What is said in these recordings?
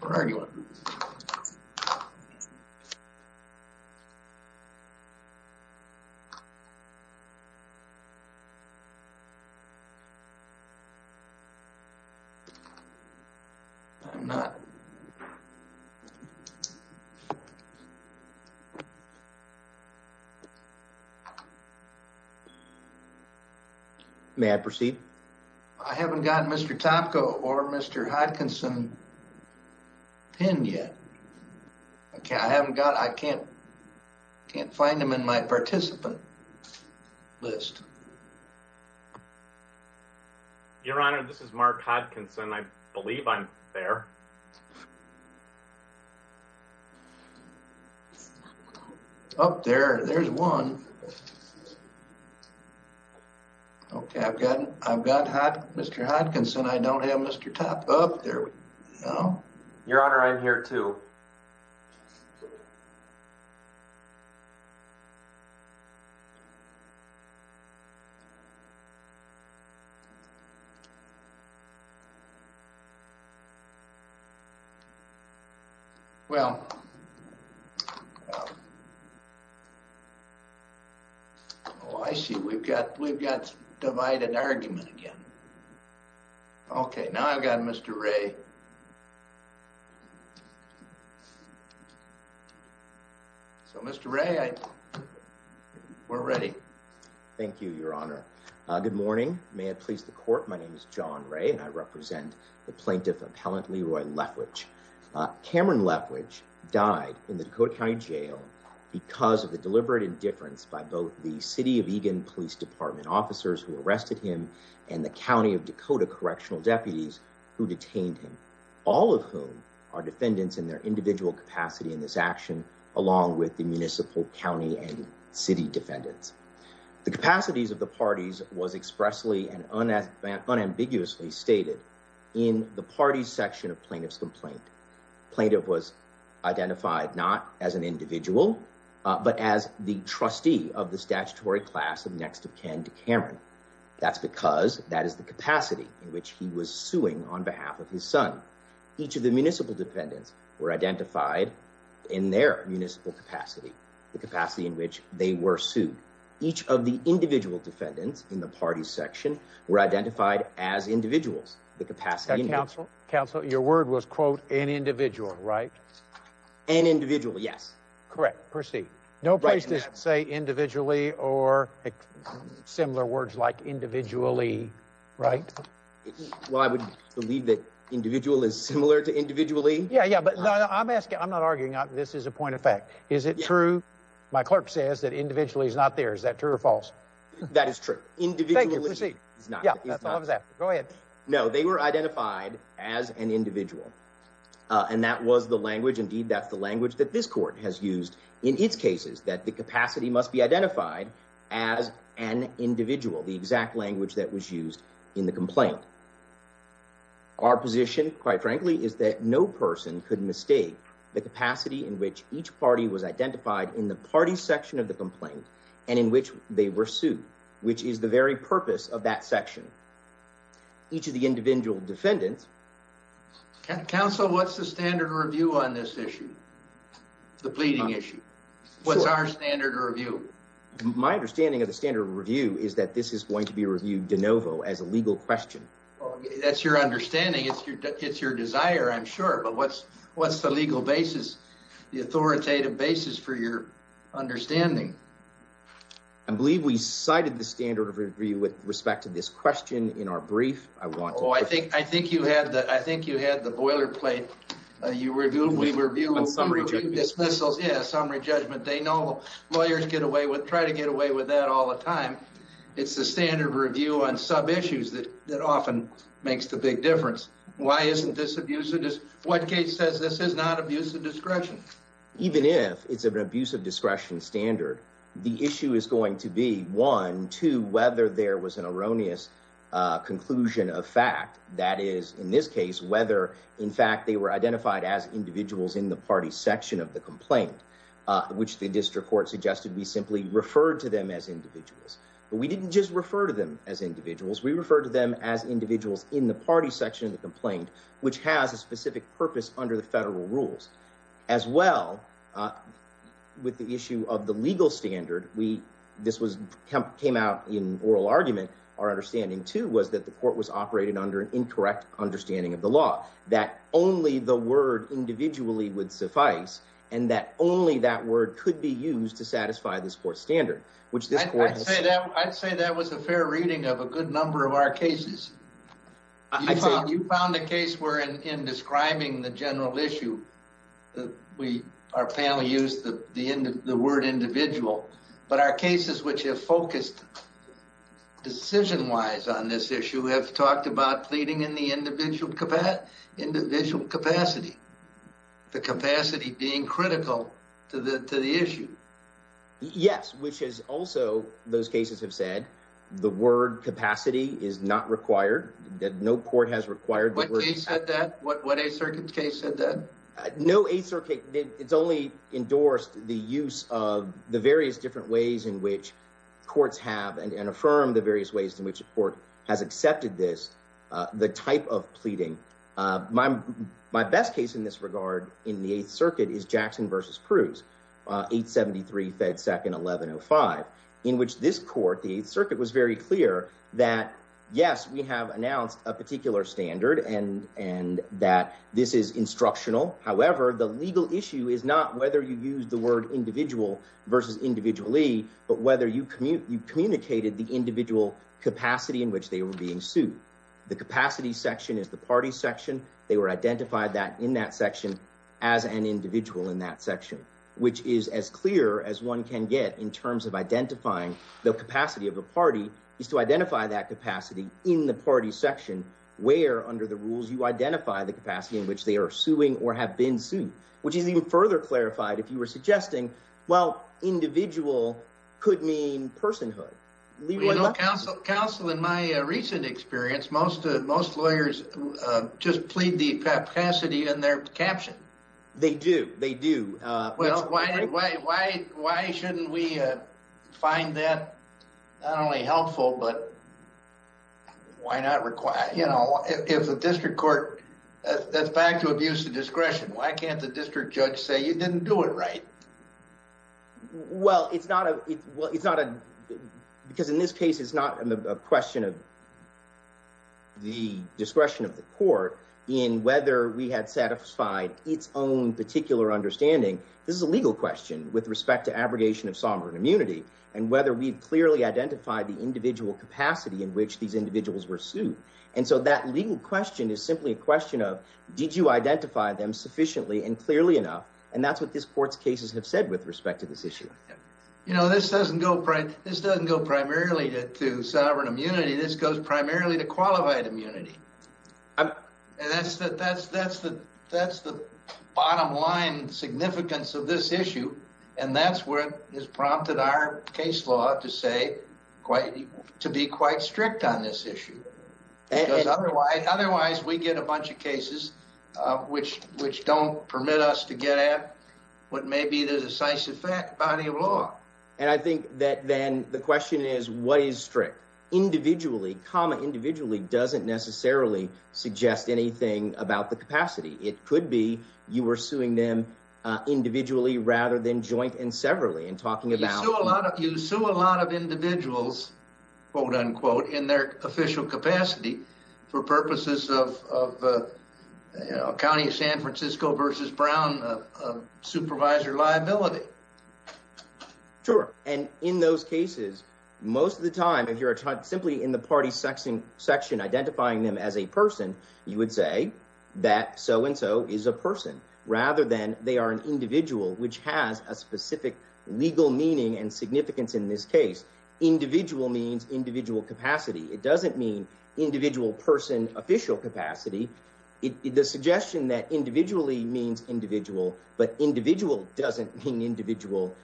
Where are you at? I'm not. May I proceed? I haven't gotten Mr. Topko or Mr. Hodkinson pinned yet. I can't find them in my participant list. Your Honor, this is Mark Hodkinson. I believe I'm there. Oh, there's one. Okay, I've got Mr. Hodkinson. I don't have Mr. Topko. Your Honor, I'm here too. Well, I see we've got divided argument again. Okay, now I've got Mr. Ray. So, Mr. Ray, we're ready. Thank you, Your Honor. Good morning. May I please the court? My name is John Ray and I represent the plaintiff appellant Leroy Leftwich. Cameron Leftwich died in the Dakota County Jail because of the deliberate indifference by both the city of Eagan police department officers who arrested him and the county of Dakota correctional deputies who detained him, all of whom are defendants in their individual capacity in this action, along with the municipal county and city defendants. The capacities of the parties was expressly and unambiguously stated in the party section of plaintiff's complaint. Plaintiff was identified not as an individual, but as the trustee of the statutory class of next of kin to Cameron. That's because that is the capacity in which he was suing on behalf of his son. Each of the municipal defendants were identified in their municipal capacity, the capacity in which they were sued. Each of the individual defendants in the party section were identified as individuals. The capacity and counsel counsel. Your word was, quote, an individual, right? An individual. Yes, correct. Percy, no place to say individually or similar words like individually. Right. Well, I would believe that individual is similar to individually. Yeah, yeah. But I'm asking I'm not arguing this is a point of fact. Is it true? My clerk says that individually is not there. Is that true or false? That is true. Individual. Yeah, go ahead. No, they were identified as an individual. And that was the language. Indeed, that's the language that this court has used in its cases, that the capacity must be identified as an individual. The exact language that was used in the complaint. Our position, quite frankly, is that no person could mistake the capacity in which each party was identified in the party section of the complaint and in which they were sued, which is the very purpose of that section. Each of the individual defendants. Council, what's the standard review on this issue? The pleading issue. What's our standard review? My understanding of the standard review is that this is going to be reviewed de novo as a legal question. That's your understanding. It's your it's your desire, I'm sure. But what's what's the legal basis? The authoritative basis for your understanding? I believe we cited the standard of review with respect to this question in our brief. Oh, I think I think you had that. I think you had the boilerplate. You were doing we were doing summary dismissals. Yes. Summary judgment. They know lawyers get away with try to get away with that all the time. It's the standard review on some issues that that often makes the big difference. Why isn't this abuse? It is. What case says this is not abuse of discretion. Even if it's an abuse of discretion standard, the issue is going to be one to whether there was an erroneous conclusion of fact. That is, in this case, whether, in fact, they were identified as individuals in the party section of the complaint, which the district court suggested. We simply referred to them as individuals, but we didn't just refer to them as individuals. We refer to them as individuals in the party section of the complaint, which has a specific purpose under the federal rules. As well with the issue of the legal standard, we this was came out in oral argument. Our understanding, too, was that the court was operated under an incorrect understanding of the law that only the word individually would suffice. And that only that word could be used to satisfy this court standard, which I'd say that I'd say that was a fair reading of a good number of our cases. I found you found a case where in describing the general issue, we our panel used the end of the word individual. But our cases, which have focused decision wise on this issue, have talked about pleading in the individual capacity, individual capacity, the capacity being critical to the issue. Yes, which is also those cases have said the word capacity is not required that no court has required. But they said that what a circuit case said that no a circuit. It's only endorsed the use of the various different ways in which courts have and affirm the various ways in which the court has accepted this. The type of pleading my my best case in this regard in the 8th Circuit is Jackson vs. Cruz, 873 Fed Second 1105, in which this court, the circuit was very clear that, yes, we have announced a particular standard and and that this is instructional. However, the legal issue is not whether you use the word individual versus individually, but whether you communicate you communicated the individual capacity in which they were being sued. The capacity section is the party section. They were identified that in that section as an individual in that section, which is as clear as one can get in terms of identifying the capacity of a party is to identify that capacity in the party section where under the rules, you identify the capacity in which they are suing or have been sued, which is even further clarified. If you were suggesting, well, individual could mean personhood, legal counsel, counsel. In my recent experience, most of most lawyers just plead the capacity in their caption. They do. They do. Well, why, why, why, why shouldn't we find that not only helpful, but why not require, you know, if the district court that's back to abuse of discretion, why can't the district judge say you didn't do it right? Well, it's not a it's not a because in this case, it's not a question of the discretion of the court in whether we had satisfied its own particular understanding. This is a legal question with respect to abrogation of sovereign immunity and whether we've clearly identified the individual capacity in which these individuals were sued. And so that legal question is simply a question of did you identify them sufficiently and clearly enough? And that's what this court's cases have said with respect to this issue. You know, this doesn't go right. This doesn't go primarily to sovereign immunity. This goes primarily to qualified immunity. And that's that that's that's the that's the bottom line significance of this issue. And that's where it has prompted our case law to say quite to be quite strict on this issue. Otherwise, we get a bunch of cases which which don't permit us to get at what may be the decisive body of law. And I think that then the question is, what is strict individually? Comma, individually doesn't necessarily suggest anything about the capacity. It could be you were suing them individually rather than joint and severally and talking about a lot of you. So a lot of individuals, quote unquote, in their official capacity for purposes of the county of San Francisco versus Brown supervisor liability. Sure. And in those cases, most of the time, if you're simply in the party section section, identifying them as a person, you would say that so and so is a person rather than they are an individual which has a specific legal meaning and significance in this case. Individual means individual capacity. It doesn't mean individual person, official capacity. The suggestion that individually means individual but individual doesn't mean individual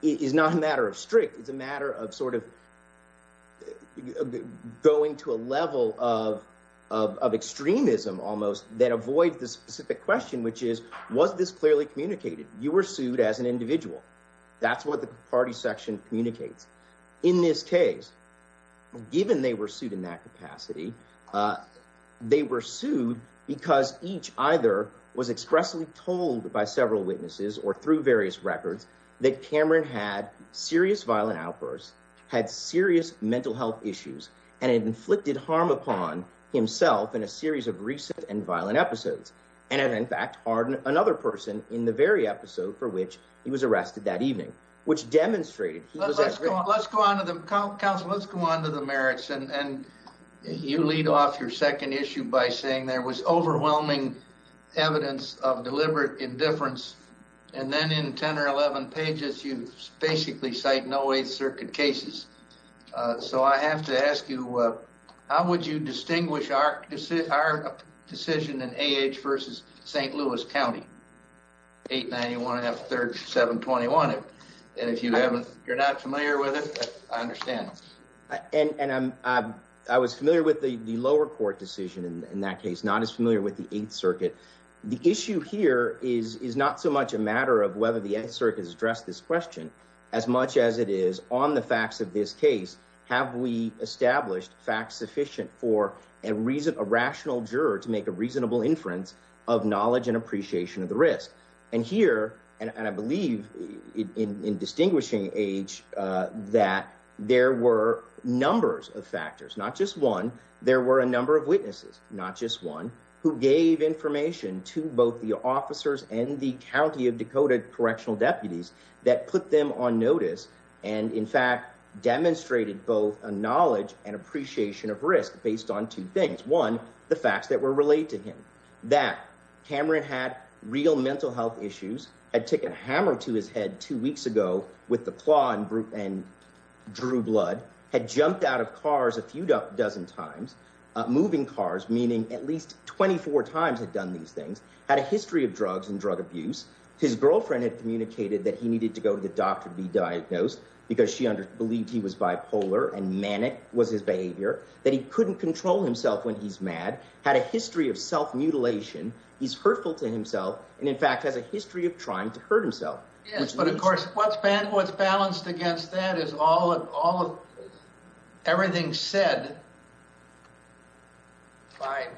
is not a matter of strict. It's a matter of sort of going to a level of of extremism almost that avoids the specific question, which is, was this clearly communicated? You were sued as an individual. That's what the party section communicates in this case. Given they were sued in that capacity, they were sued because each either was expressly told by several witnesses or through various records that Cameron had serious violent outbursts, had serious mental health issues and inflicted harm upon himself in a series of recent and violent episodes. And in fact, another person in the very episode for which he was arrested that evening, which demonstrated. Let's go on to the council. Let's go on to the merits. And you lead off your second issue by saying there was overwhelming evidence of deliberate indifference. And then in 10 or 11 pages, you basically say no way circuit cases. So I have to ask you, how would you distinguish our decision in age versus St. Louis County? Eight ninety one third seven twenty one. And if you haven't, you're not familiar with it. I understand. And I was familiar with the lower court decision in that case, not as familiar with the 8th Circuit. The issue here is is not so much a matter of whether the 8th Circuit has addressed this question as much as it is on the facts of this case. Have we established facts sufficient for a reason, a rational juror to make a reasonable inference of knowledge and appreciation of the risk? And here and I believe in distinguishing age that there were numbers of factors, not just one. There were a number of witnesses, not just one, who gave information to both the officers and the county of Dakota correctional deputies that put them on notice. And in fact, demonstrated both a knowledge and appreciation of risk based on two things. One, the facts that were related to him, that Cameron had real mental health issues, had taken a hammer to his head two weeks ago with the claw and drew blood, had jumped out of cars a few dozen times, moving cars, meaning at least 24 times had done these things, had a history of drugs and drug abuse. His girlfriend had communicated that he needed to go to the doctor to be diagnosed because she believed he was bipolar and manic was his behavior, that he couldn't control himself when he's mad, had a history of self mutilation. He's hurtful to himself and in fact has a history of trying to hurt himself. But of course what's balanced against that is all of everything said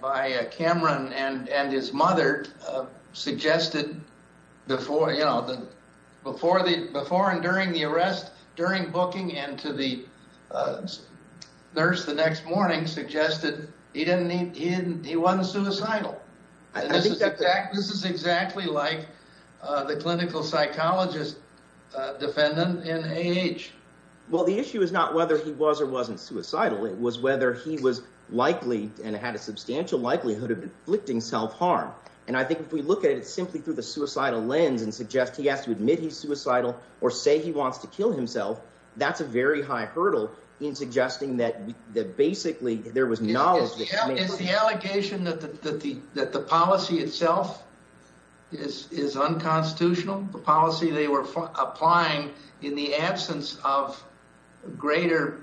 by Cameron and his mother suggested before and during the arrest, during booking and to the nurse the next morning suggested he wasn't suicidal. I think that this is exactly like the clinical psychologist defendant in age. Well, the issue is not whether he was or wasn't suicidal. It was whether he was likely and had a substantial likelihood of inflicting self harm. And I think if we look at it simply through the suicidal lens and suggest he has to admit he's suicidal or say he wants to kill himself, that's a very high hurdle in suggesting that basically there was knowledge. Is the allegation that the policy itself is unconstitutional, the policy they were applying in the absence of greater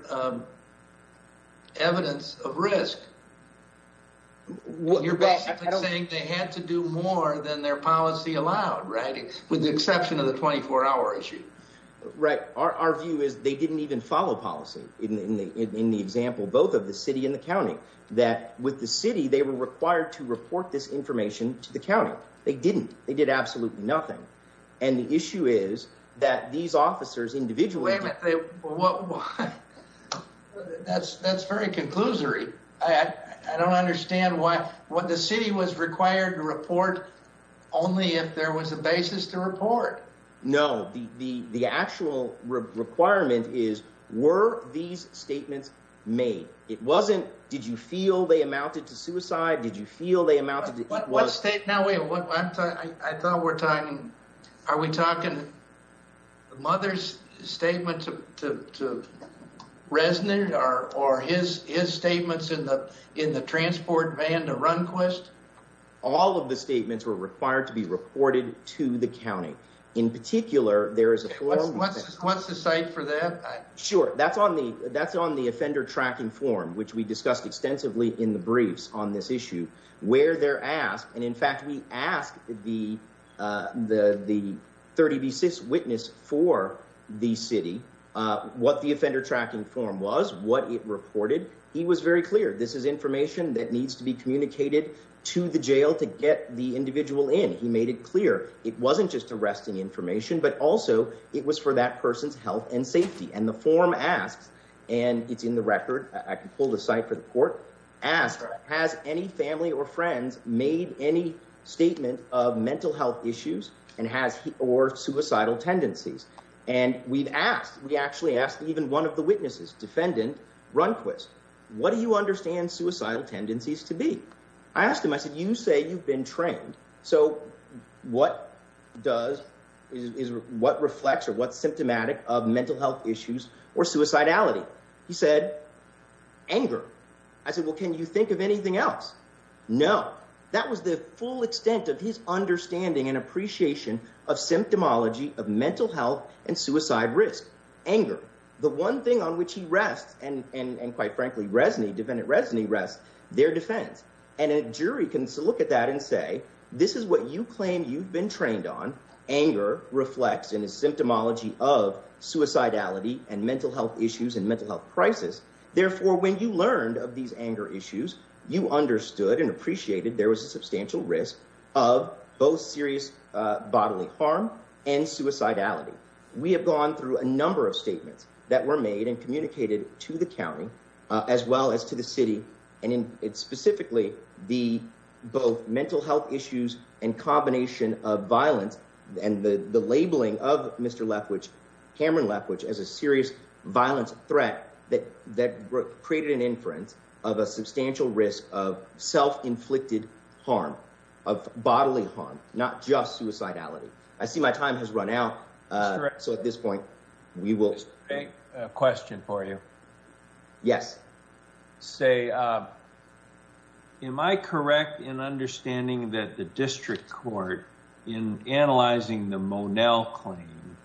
evidence of risk? You're basically saying they had to do more than their policy allowed, right? With the exception of the 24 hour issue. Right. Our view is they didn't even follow policy in the in the example, both of the city and the county that with the city, they were required to report this information to the county. They didn't. They did absolutely nothing. And the issue is that these officers individually. That's that's very conclusory. I don't understand why what the city was required to report only if there was a basis to report. No, the the the actual requirement is, were these statements made? It wasn't. Did you feel they amounted to suicide? Did you feel they amounted to what state? Now, I thought we're talking. Are we talking? Mother's statement to the residents are or his his statements in the in the transport van to run quest. All of the statements were required to be reported to the county. In particular, there is a what's what's the site for that? Sure. That's on the that's on the offender tracking form, which we discussed extensively in the briefs on this issue where they're asked. And in fact, we asked the the the 30 basis witness for the city what the offender tracking form was, what it reported. He was very clear. This is information that needs to be communicated to the jail to get the individual in. He made it clear it wasn't just arresting information, but also it was for that person's health and safety. And the form asks. And it's in the record. I can pull the site for the court. Asked, has any family or friends made any statement of mental health issues and has or suicidal tendencies? And we've asked we actually asked even one of the witnesses, defendant Runquist, what do you understand suicidal tendencies to be? I asked him, I said, you say you've been trained. So what does is what reflects or what's symptomatic of mental health issues or suicidality? He said anger. I said, well, can you think of anything else? No. That was the full extent of his understanding and appreciation of symptomology of mental health and suicide risk. The one thing on which he rests and quite frankly, Resnick, defendant Resnick, rest their defense. And a jury can look at that and say, this is what you claim you've been trained on. Anger reflects in a symptomology of suicidality and mental health issues and mental health crisis. Therefore, when you learned of these anger issues, you understood and appreciated there was a substantial risk of both serious bodily harm and suicidality. We have gone through a number of statements that were made and communicated to the county as well as to the city. And it's specifically the both mental health issues and combination of violence and the labeling of Mr. Left, which Cameron left, which is a serious violence threat that that created an inference of a substantial risk of self-inflicted harm of bodily harm, not just suicidality. I see my time has run out. So at this point, we will take a question for you. Yes. Say. Am I correct in understanding that the district court in analyzing the Monell claim.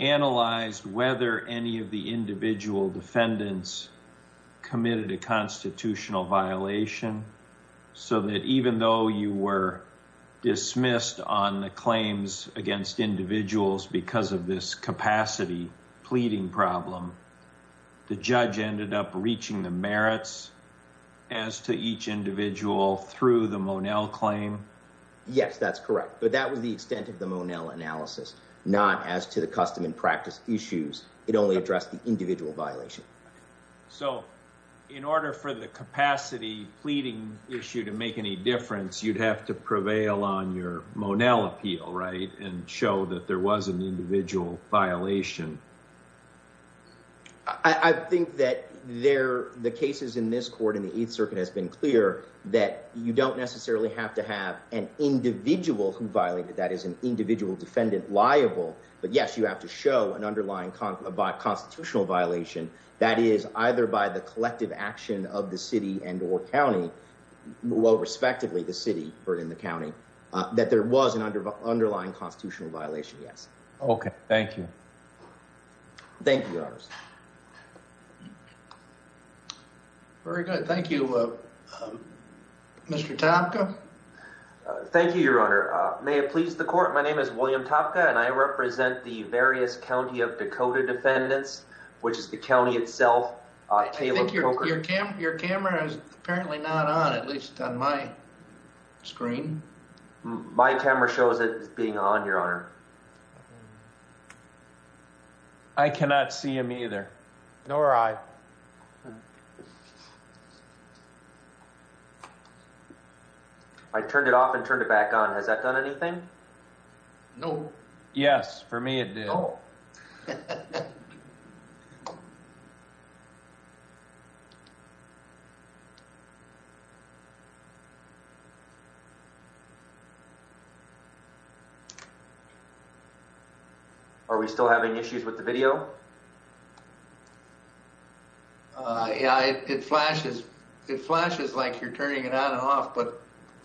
Analyzed whether any of the individual defendants committed a constitutional violation so that even though you were dismissed on the claims against individuals because of this capacity pleading problem. The judge ended up reaching the merits as to each individual through the Monell claim. Yes, that's correct. But that was the extent of the Monell analysis, not as to the custom and practice issues. It only addressed the individual violation. So in order for the capacity pleading issue to make any difference, you'd have to prevail on your Monell appeal. Right. And show that there was an individual violation. I think that there the cases in this court in the 8th Circuit has been clear that you don't necessarily have to have an individual who violated that is an individual defendant liable. But, yes, you have to show an underlying constitutional violation. That is, either by the collective action of the city and or county. Well, respectively, the city or in the county that there was an underlying constitutional violation. Yes. OK, thank you. Thank you. Very good. Thank you, Mr. Topka. Thank you, Your Honor. May it please the court. My name is William Topka and I represent the various county of Dakota defendants, which is the county itself. Your camera is apparently not on, at least on my screen. My camera shows it being on your honor. I cannot see him either. Nor I. I turned it off and turned it back on. Has that done anything? No. Yes, for me, it did. Are we still having issues with the video? Yeah, it flashes. It flashes like you're turning it on and off, but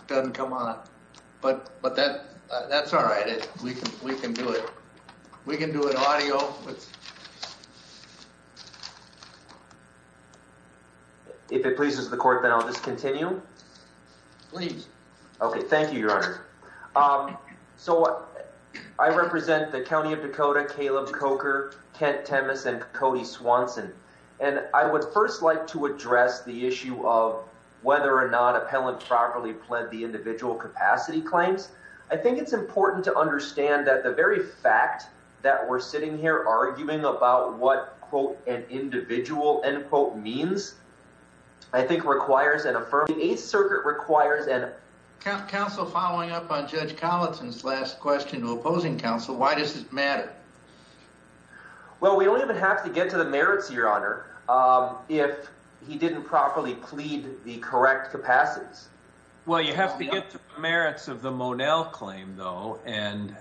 doesn't come on. But but that that's all right. We can we can do it. We can do it. Audio. If it pleases the court, then I'll just continue, please. So I represent the county of Dakota, Caleb Coker, Kent Timmons and Cody Swanson. And I would first like to address the issue of whether or not appellants properly pled the individual capacity claims. I think it's important to understand that the very fact that we're sitting here arguing about what, quote, an individual end quote means. I think requires an affirmative circuit requires that counsel following up on Judge Collinson's last question to opposing counsel. Why does this matter? Well, we don't even have to get to the merits, your honor. If he didn't properly plead the correct capacities. Well, you have to get to the merits of the Monell claim, though. And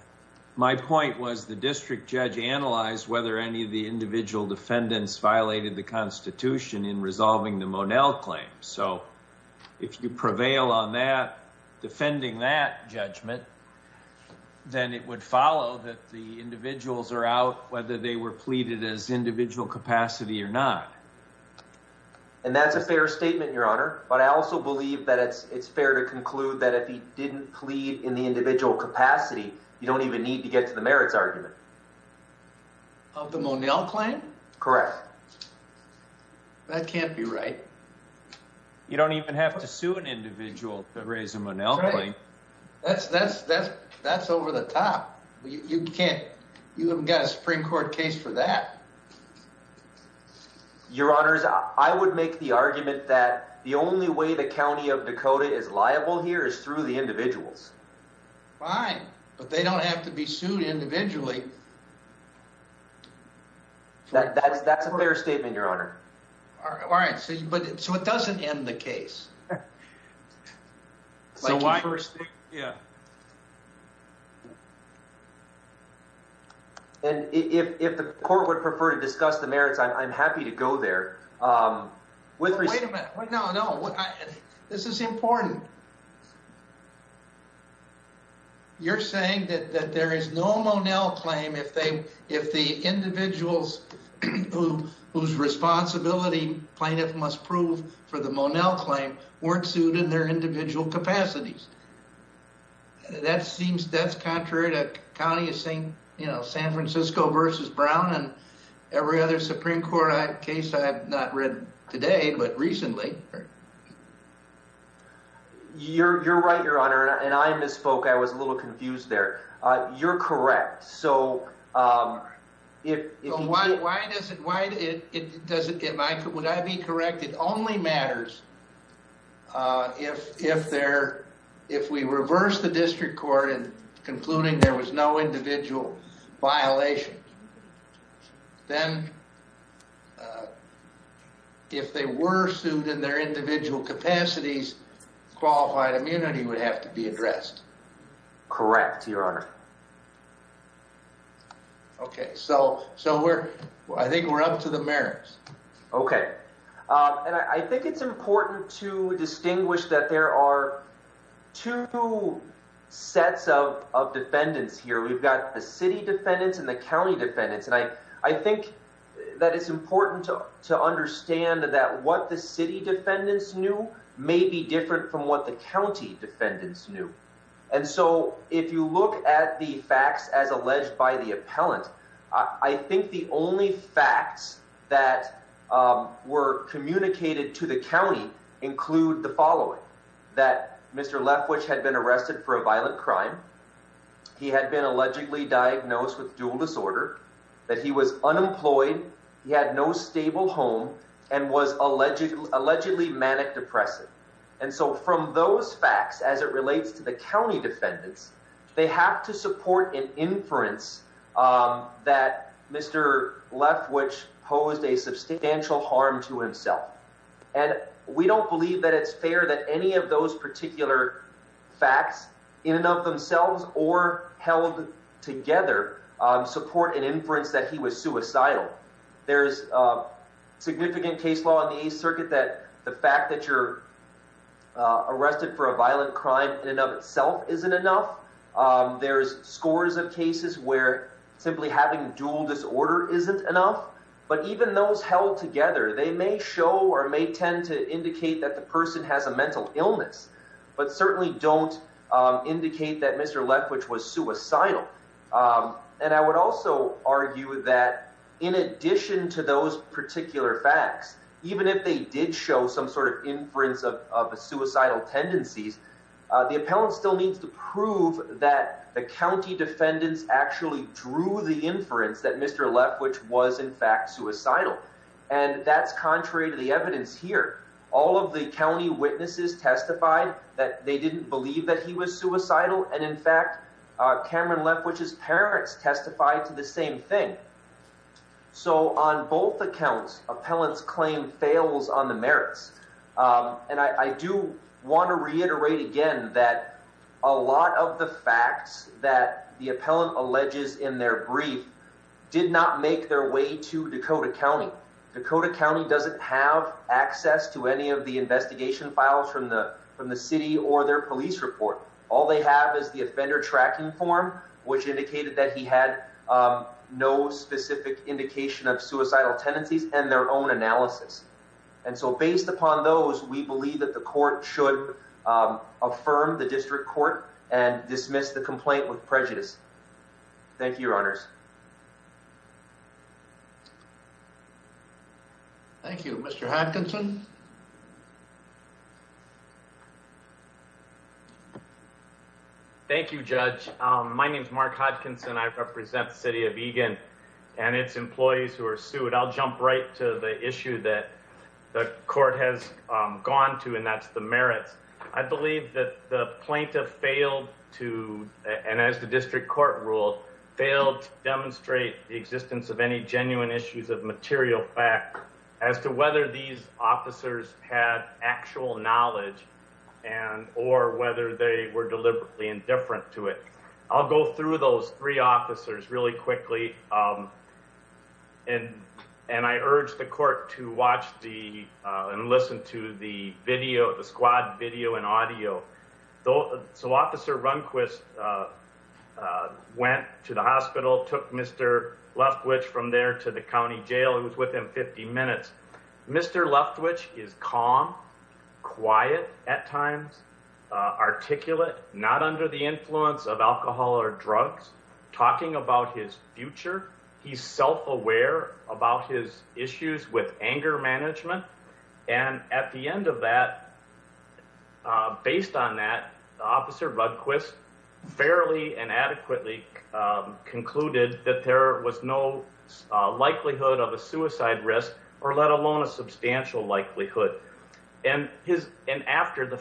my point was the district judge analyzed whether any of the individual defendants violated the Constitution in resolving the Monell claim. So if you prevail on that, defending that judgment, then it would follow that the individuals are out, whether they were pleaded as individual capacity or not. And that's a fair statement, your honor. But I also believe that it's it's fair to conclude that if he didn't plead in the individual capacity, you don't even need to get to the merits argument. Of the Monell claim? Correct. That can't be right. You don't even have to sue an individual to raise a Monell claim. That's that's that's that's over the top. You can't. You haven't got a Supreme Court case for that. Your honors, I would make the argument that the only way the county of Dakota is liable here is through the individuals. Fine, but they don't have to be sued individually. That's that's a fair statement, your honor. All right. But so it doesn't end the case. So why first? Yeah. And if the court would prefer to discuss the merits, I'm happy to go there with. Wait a minute. No, no. This is important. You're saying that there is no Monell claim if they if the individuals who whose responsibility plaintiff must prove for the Monell claim weren't sued in their individual capacities. That seems that's contrary to county is saying, you know, San Francisco versus Brown and every other Supreme Court case I have not read today, but recently. You're you're right, your honor. And I misspoke. I was a little confused there. You're correct. So if you why, why does it why it doesn't get my would I be correct? It only matters if if there if we reverse the district court and concluding there was no individual violation. Then if they were sued in their individual capacities, qualified immunity would have to be addressed. Correct. Your honor. OK, so so we're I think we're up to the merits. OK. And I think it's important to distinguish that there are two sets of defendants here. We've got the city defendants and the county defendants. And I I think that it's important to to understand that what the city defendants knew may be different from what the county defendants knew. And so if you look at the facts as alleged by the appellant, I think the only facts that were communicated to the county include the following that Mr. Left which had been arrested for a violent crime. He had been allegedly diagnosed with dual disorder that he was unemployed. He had no stable home and was allegedly allegedly manic depressive. And so from those facts, as it relates to the county defendants, they have to support an inference that Mr. Left, which posed a substantial harm to himself. And we don't believe that it's fair that any of those particular facts in and of themselves or held together support an inference that he was suicidal. There is a significant case law in the circuit that the fact that you're arrested for a violent crime in and of itself isn't enough. There's scores of cases where simply having dual disorder isn't enough. But even those held together, they may show or may tend to indicate that the person has a mental illness, but certainly don't indicate that Mr. Left, which was suicidal. And I would also argue that in addition to those particular facts, even if they did show some sort of inference of suicidal tendencies, the appellant still needs to prove that the county defendants actually drew the inference that Mr. Left, which was in fact suicidal. And that's contrary to the evidence here. All of the county witnesses testified that they didn't believe that he was suicidal. And in fact, Cameron left, which his parents testified to the same thing. So on both accounts, appellants claim fails on the merits. And I do want to reiterate again that a lot of the facts that the appellant alleges in their brief did not make their way to Dakota County. Dakota County doesn't have access to any of the investigation files from the from the city or their police report. All they have is the offender tracking form, which indicated that he had no specific indication of suicidal tendencies and their own analysis. And so based upon those, we believe that the court should affirm the district court and dismiss the complaint with prejudice. Thank you, your honors. Thank you, Mr. Hopkinson. Thank you, Judge. My name is Mark Hopkinson. I represent the city of Egan and its employees who are sued. I'll jump right to the issue that the court has gone to, and that's the merits. I believe that the plaintiff failed to and as the district court ruled, failed to demonstrate the existence of any genuine issues of material fact as to whether these officers had actual knowledge and or whether they were deliberately indifferent to it. I'll go through those three officers really quickly. And and I urge the court to watch the and listen to the video, the squad video and audio. So Officer Runquist went to the hospital, took Mr. Leftwich from there to the county jail. It was within 50 minutes. Mr. Leftwich is calm, quiet at times, articulate, not under the influence of alcohol or drugs, talking about his future. He's self-aware about his issues with anger management. And at the end of that, based on that, Officer Runquist fairly and adequately concluded that there was no likelihood of a suicide risk or let alone a substantial likelihood. And his and after the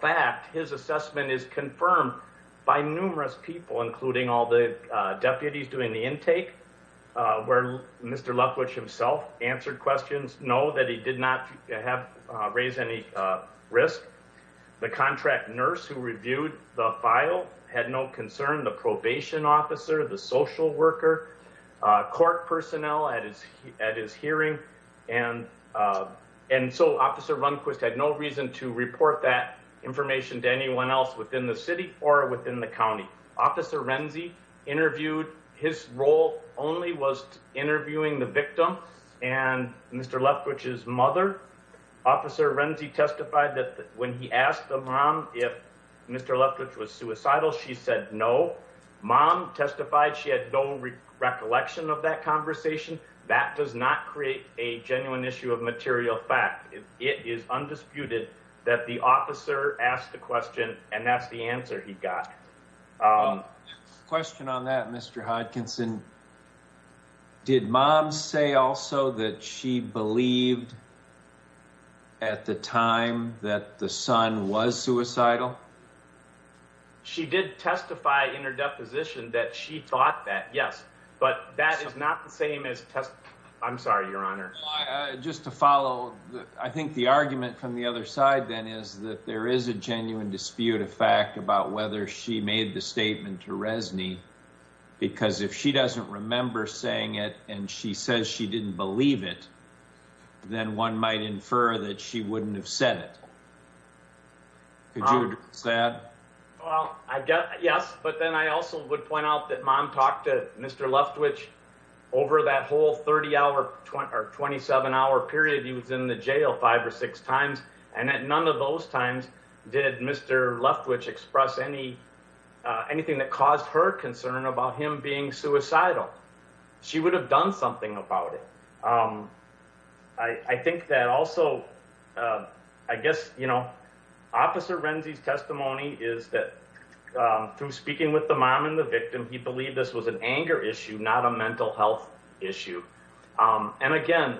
fact, his assessment is confirmed by numerous people, including all the deputies doing the intake where Mr. Leftwich himself answered questions. No, that he did not have raised any risk. The contract nurse who reviewed the file had no concern. The probation officer, the social worker court personnel at his at his hearing. And and so Officer Runquist had no reason to report that information to anyone else within the city or within the county. Officer Renzi interviewed his role only was interviewing the victim and Mr. Renzi testified that when he asked the mom if Mr. Leftwich was suicidal, she said no. Mom testified she had no recollection of that conversation. That does not create a genuine issue of material fact. It is undisputed that the officer asked the question and that's the answer he got. Question on that, Mr. Hodkinson. Did mom say also that she believed. At the time that the son was suicidal. She did testify in her deposition that she thought that yes, but that is not the same as test. I'm sorry, Your Honor. Just to follow. I think the argument from the other side then is that there is a genuine dispute of fact about whether she made the statement to Resni. Because if she doesn't remember saying it and she says she didn't believe it. Then one might infer that she wouldn't have said it. Well, I guess. Yes. But then I also would point out that mom talked to Mr. Leftwich over that whole 30 hour or 27 hour period. He was in the jail five or six times. And at none of those times did Mr. Leftwich express any anything that caused her concern about him being suicidal. She would have done something about it. I think that also, I guess, you know, officer Renzi's testimony is that through speaking with the mom and the victim, he believed this was an anger issue, not a mental health issue. And again,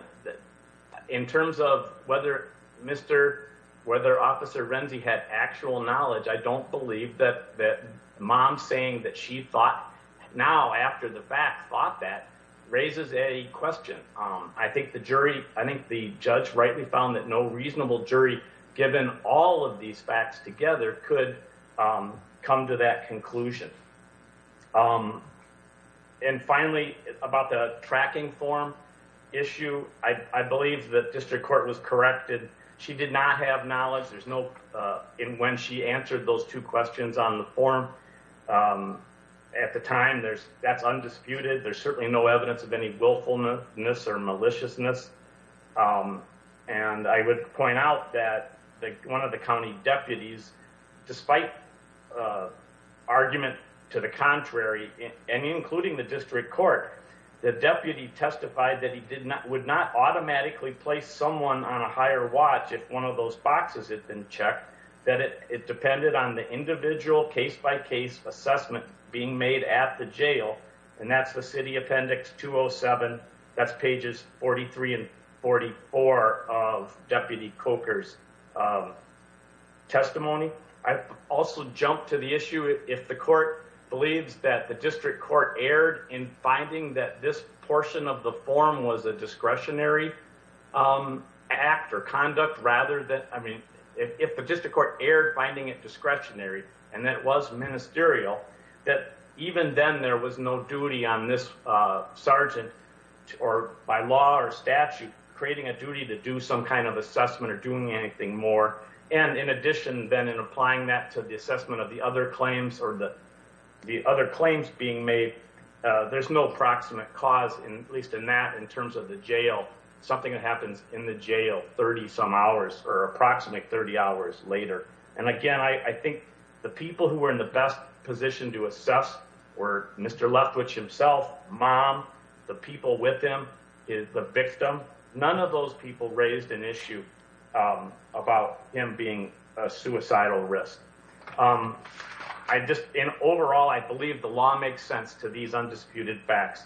in terms of whether Mr. Officer Renzi had actual knowledge. I don't believe that that mom saying that she thought now after the fact thought that raises a question. I think the jury. I think the judge rightly found that no reasonable jury, given all of these facts together, could come to that conclusion. And finally, about the tracking form issue. I believe that district court was corrected. She did not have knowledge. There's no. And when she answered those two questions on the form at the time, there's that's undisputed. There's certainly no evidence of any willfulness or maliciousness. And I would point out that one of the county deputies, despite argument to the contrary, and including the district court, the deputy testified that he did not would not automatically place someone on a higher watch. If one of those boxes had been checked, that it depended on the individual case by case assessment being made at the jail. And that's the city Appendix 207. That's pages 43 and 44 of Deputy Coker's testimony. I also jump to the issue if the court believes that the district court erred in finding that this portion of the form was a discretionary act or conduct rather than I mean, if the district court erred finding it discretionary and that was ministerial, that even then there was no duty on this sergeant or by law or statute creating a duty to do some kind of assessment or doing anything more. And in addition, then, in applying that to the assessment of the other claims or the other claims being made, there's no proximate cause, at least in that in terms of the jail, something that happens in the jail 30 some hours or approximately 30 hours later. And again, I think the people who were in the best position to assess were Mr. Leftwich himself, mom, the people with him, the victim. None of those people raised an issue about him being a suicidal risk. I just in overall, I believe the law makes sense to these undisputed facts.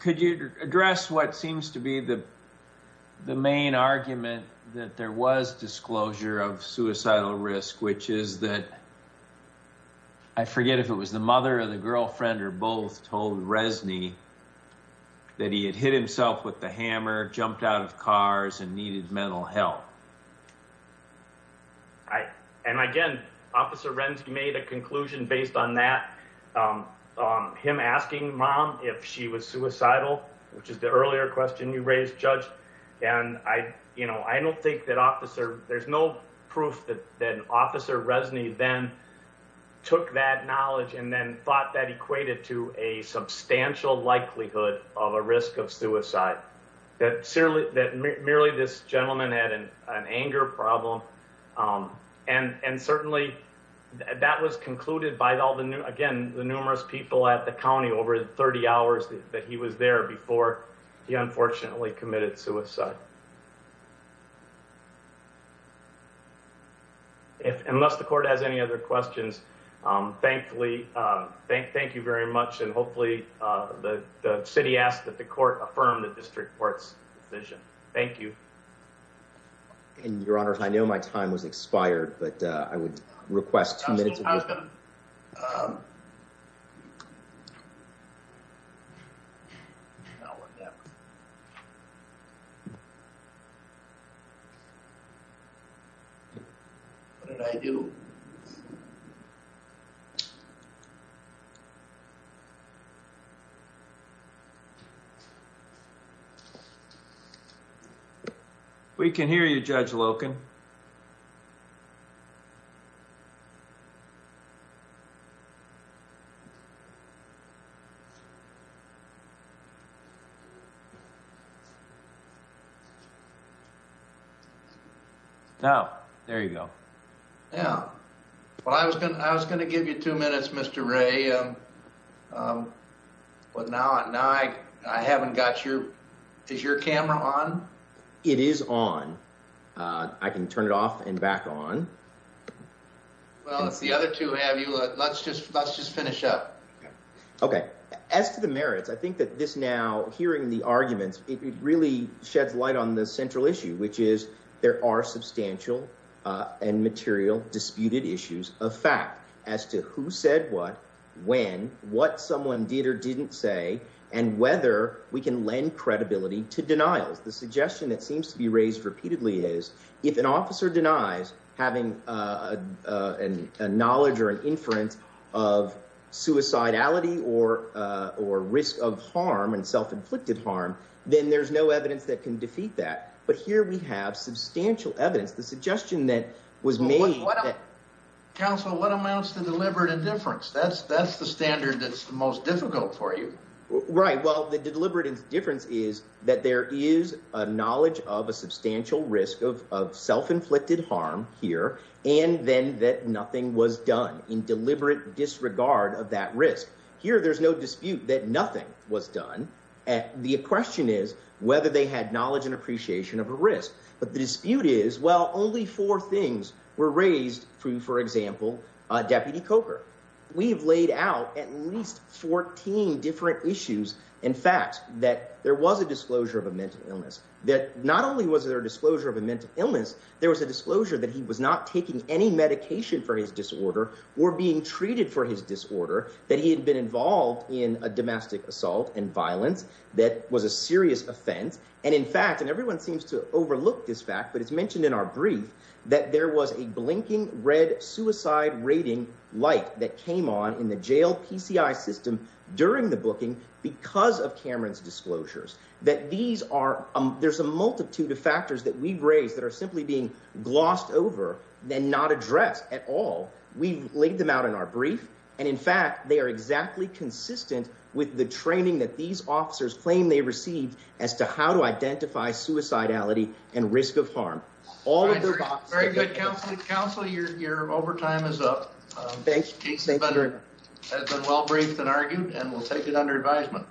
Could you address what seems to be the main argument that there was disclosure of suicidal risk, which is that I forget if it was the mother or the girlfriend or both told Resney that he had hit himself with the hammer, jumped out of cars and needed mental health. And again, Officer Rensky made a conclusion based on that, him asking mom if she was suicidal, which is the earlier question you raised, Judge. And I, you know, I don't think that officer there's no proof that an officer resonate then took that knowledge and then thought that equated to a substantial likelihood of a risk of suicide that merely this gentleman had an anger problem. And certainly that was concluded by all the again, the numerous people at the county over 30 hours that he was there before he unfortunately committed suicide. If unless the court has any other questions, thankfully, thank you very much. And hopefully the city asked that the court affirmed that district courts vision. Thank you. And your honor, I know my time was expired, but I would request two minutes. What did I do? We can hear you, Judge Loken. Now, there you go. Yeah. Well, I was going to, I was going to give you two minutes, Mr. Ray. But now, now I haven't got your, is your camera on? It is on. I can turn it off and back on. Well, it's the other two. Have you? Let's just let's just finish up. OK, as to the merits, I think that this now hearing the arguments, it really sheds light on the central issue, which is there are substantial and material disputed issues of fact as to who said what, when, what someone did or didn't say, and whether we can lend credibility to denials. The suggestion that seems to be raised repeatedly is if an officer denies having a knowledge or an inference of suicidality or or risk of harm and self-inflicted harm, then there's no evidence that can defeat that. But here we have substantial evidence. The suggestion that was made. Counsel, what amounts to deliberate indifference? That's that's the standard. That's the most difficult for you. Right. Well, the deliberate indifference is that there is a knowledge of a substantial risk of of self-inflicted harm here and then that nothing was done in deliberate disregard of that risk. Here, there's no dispute that nothing was done. And the question is whether they had knowledge and appreciation of a risk. But the dispute is, well, only four things were raised through, for example, Deputy Coker. We've laid out at least 14 different issues and facts that there was a disclosure of a mental illness that not only was there a disclosure of a mental illness, there was a disclosure that he was not taking any medication for his disorder or being treated for his disorder, that he had been involved in a domestic assault and violence that was a serious offense. And in fact, and everyone seems to overlook this fact, but it's mentioned in our brief that there was a blinking red suicide rating light that came on in the jail PCI system during the booking because of Cameron's disclosures that these are there's a multitude of factors that we've raised that are simply being glossed over, then not addressed at all. We've laid them out in our brief. And in fact, they are exactly consistent with the training that these officers claim they received as to how to identify suicidality and risk of harm. All of their very good counseling counsel. You're here. Overtime is up. Thanks. Thanks. But it has been well briefed and argued and we'll take it under advisement.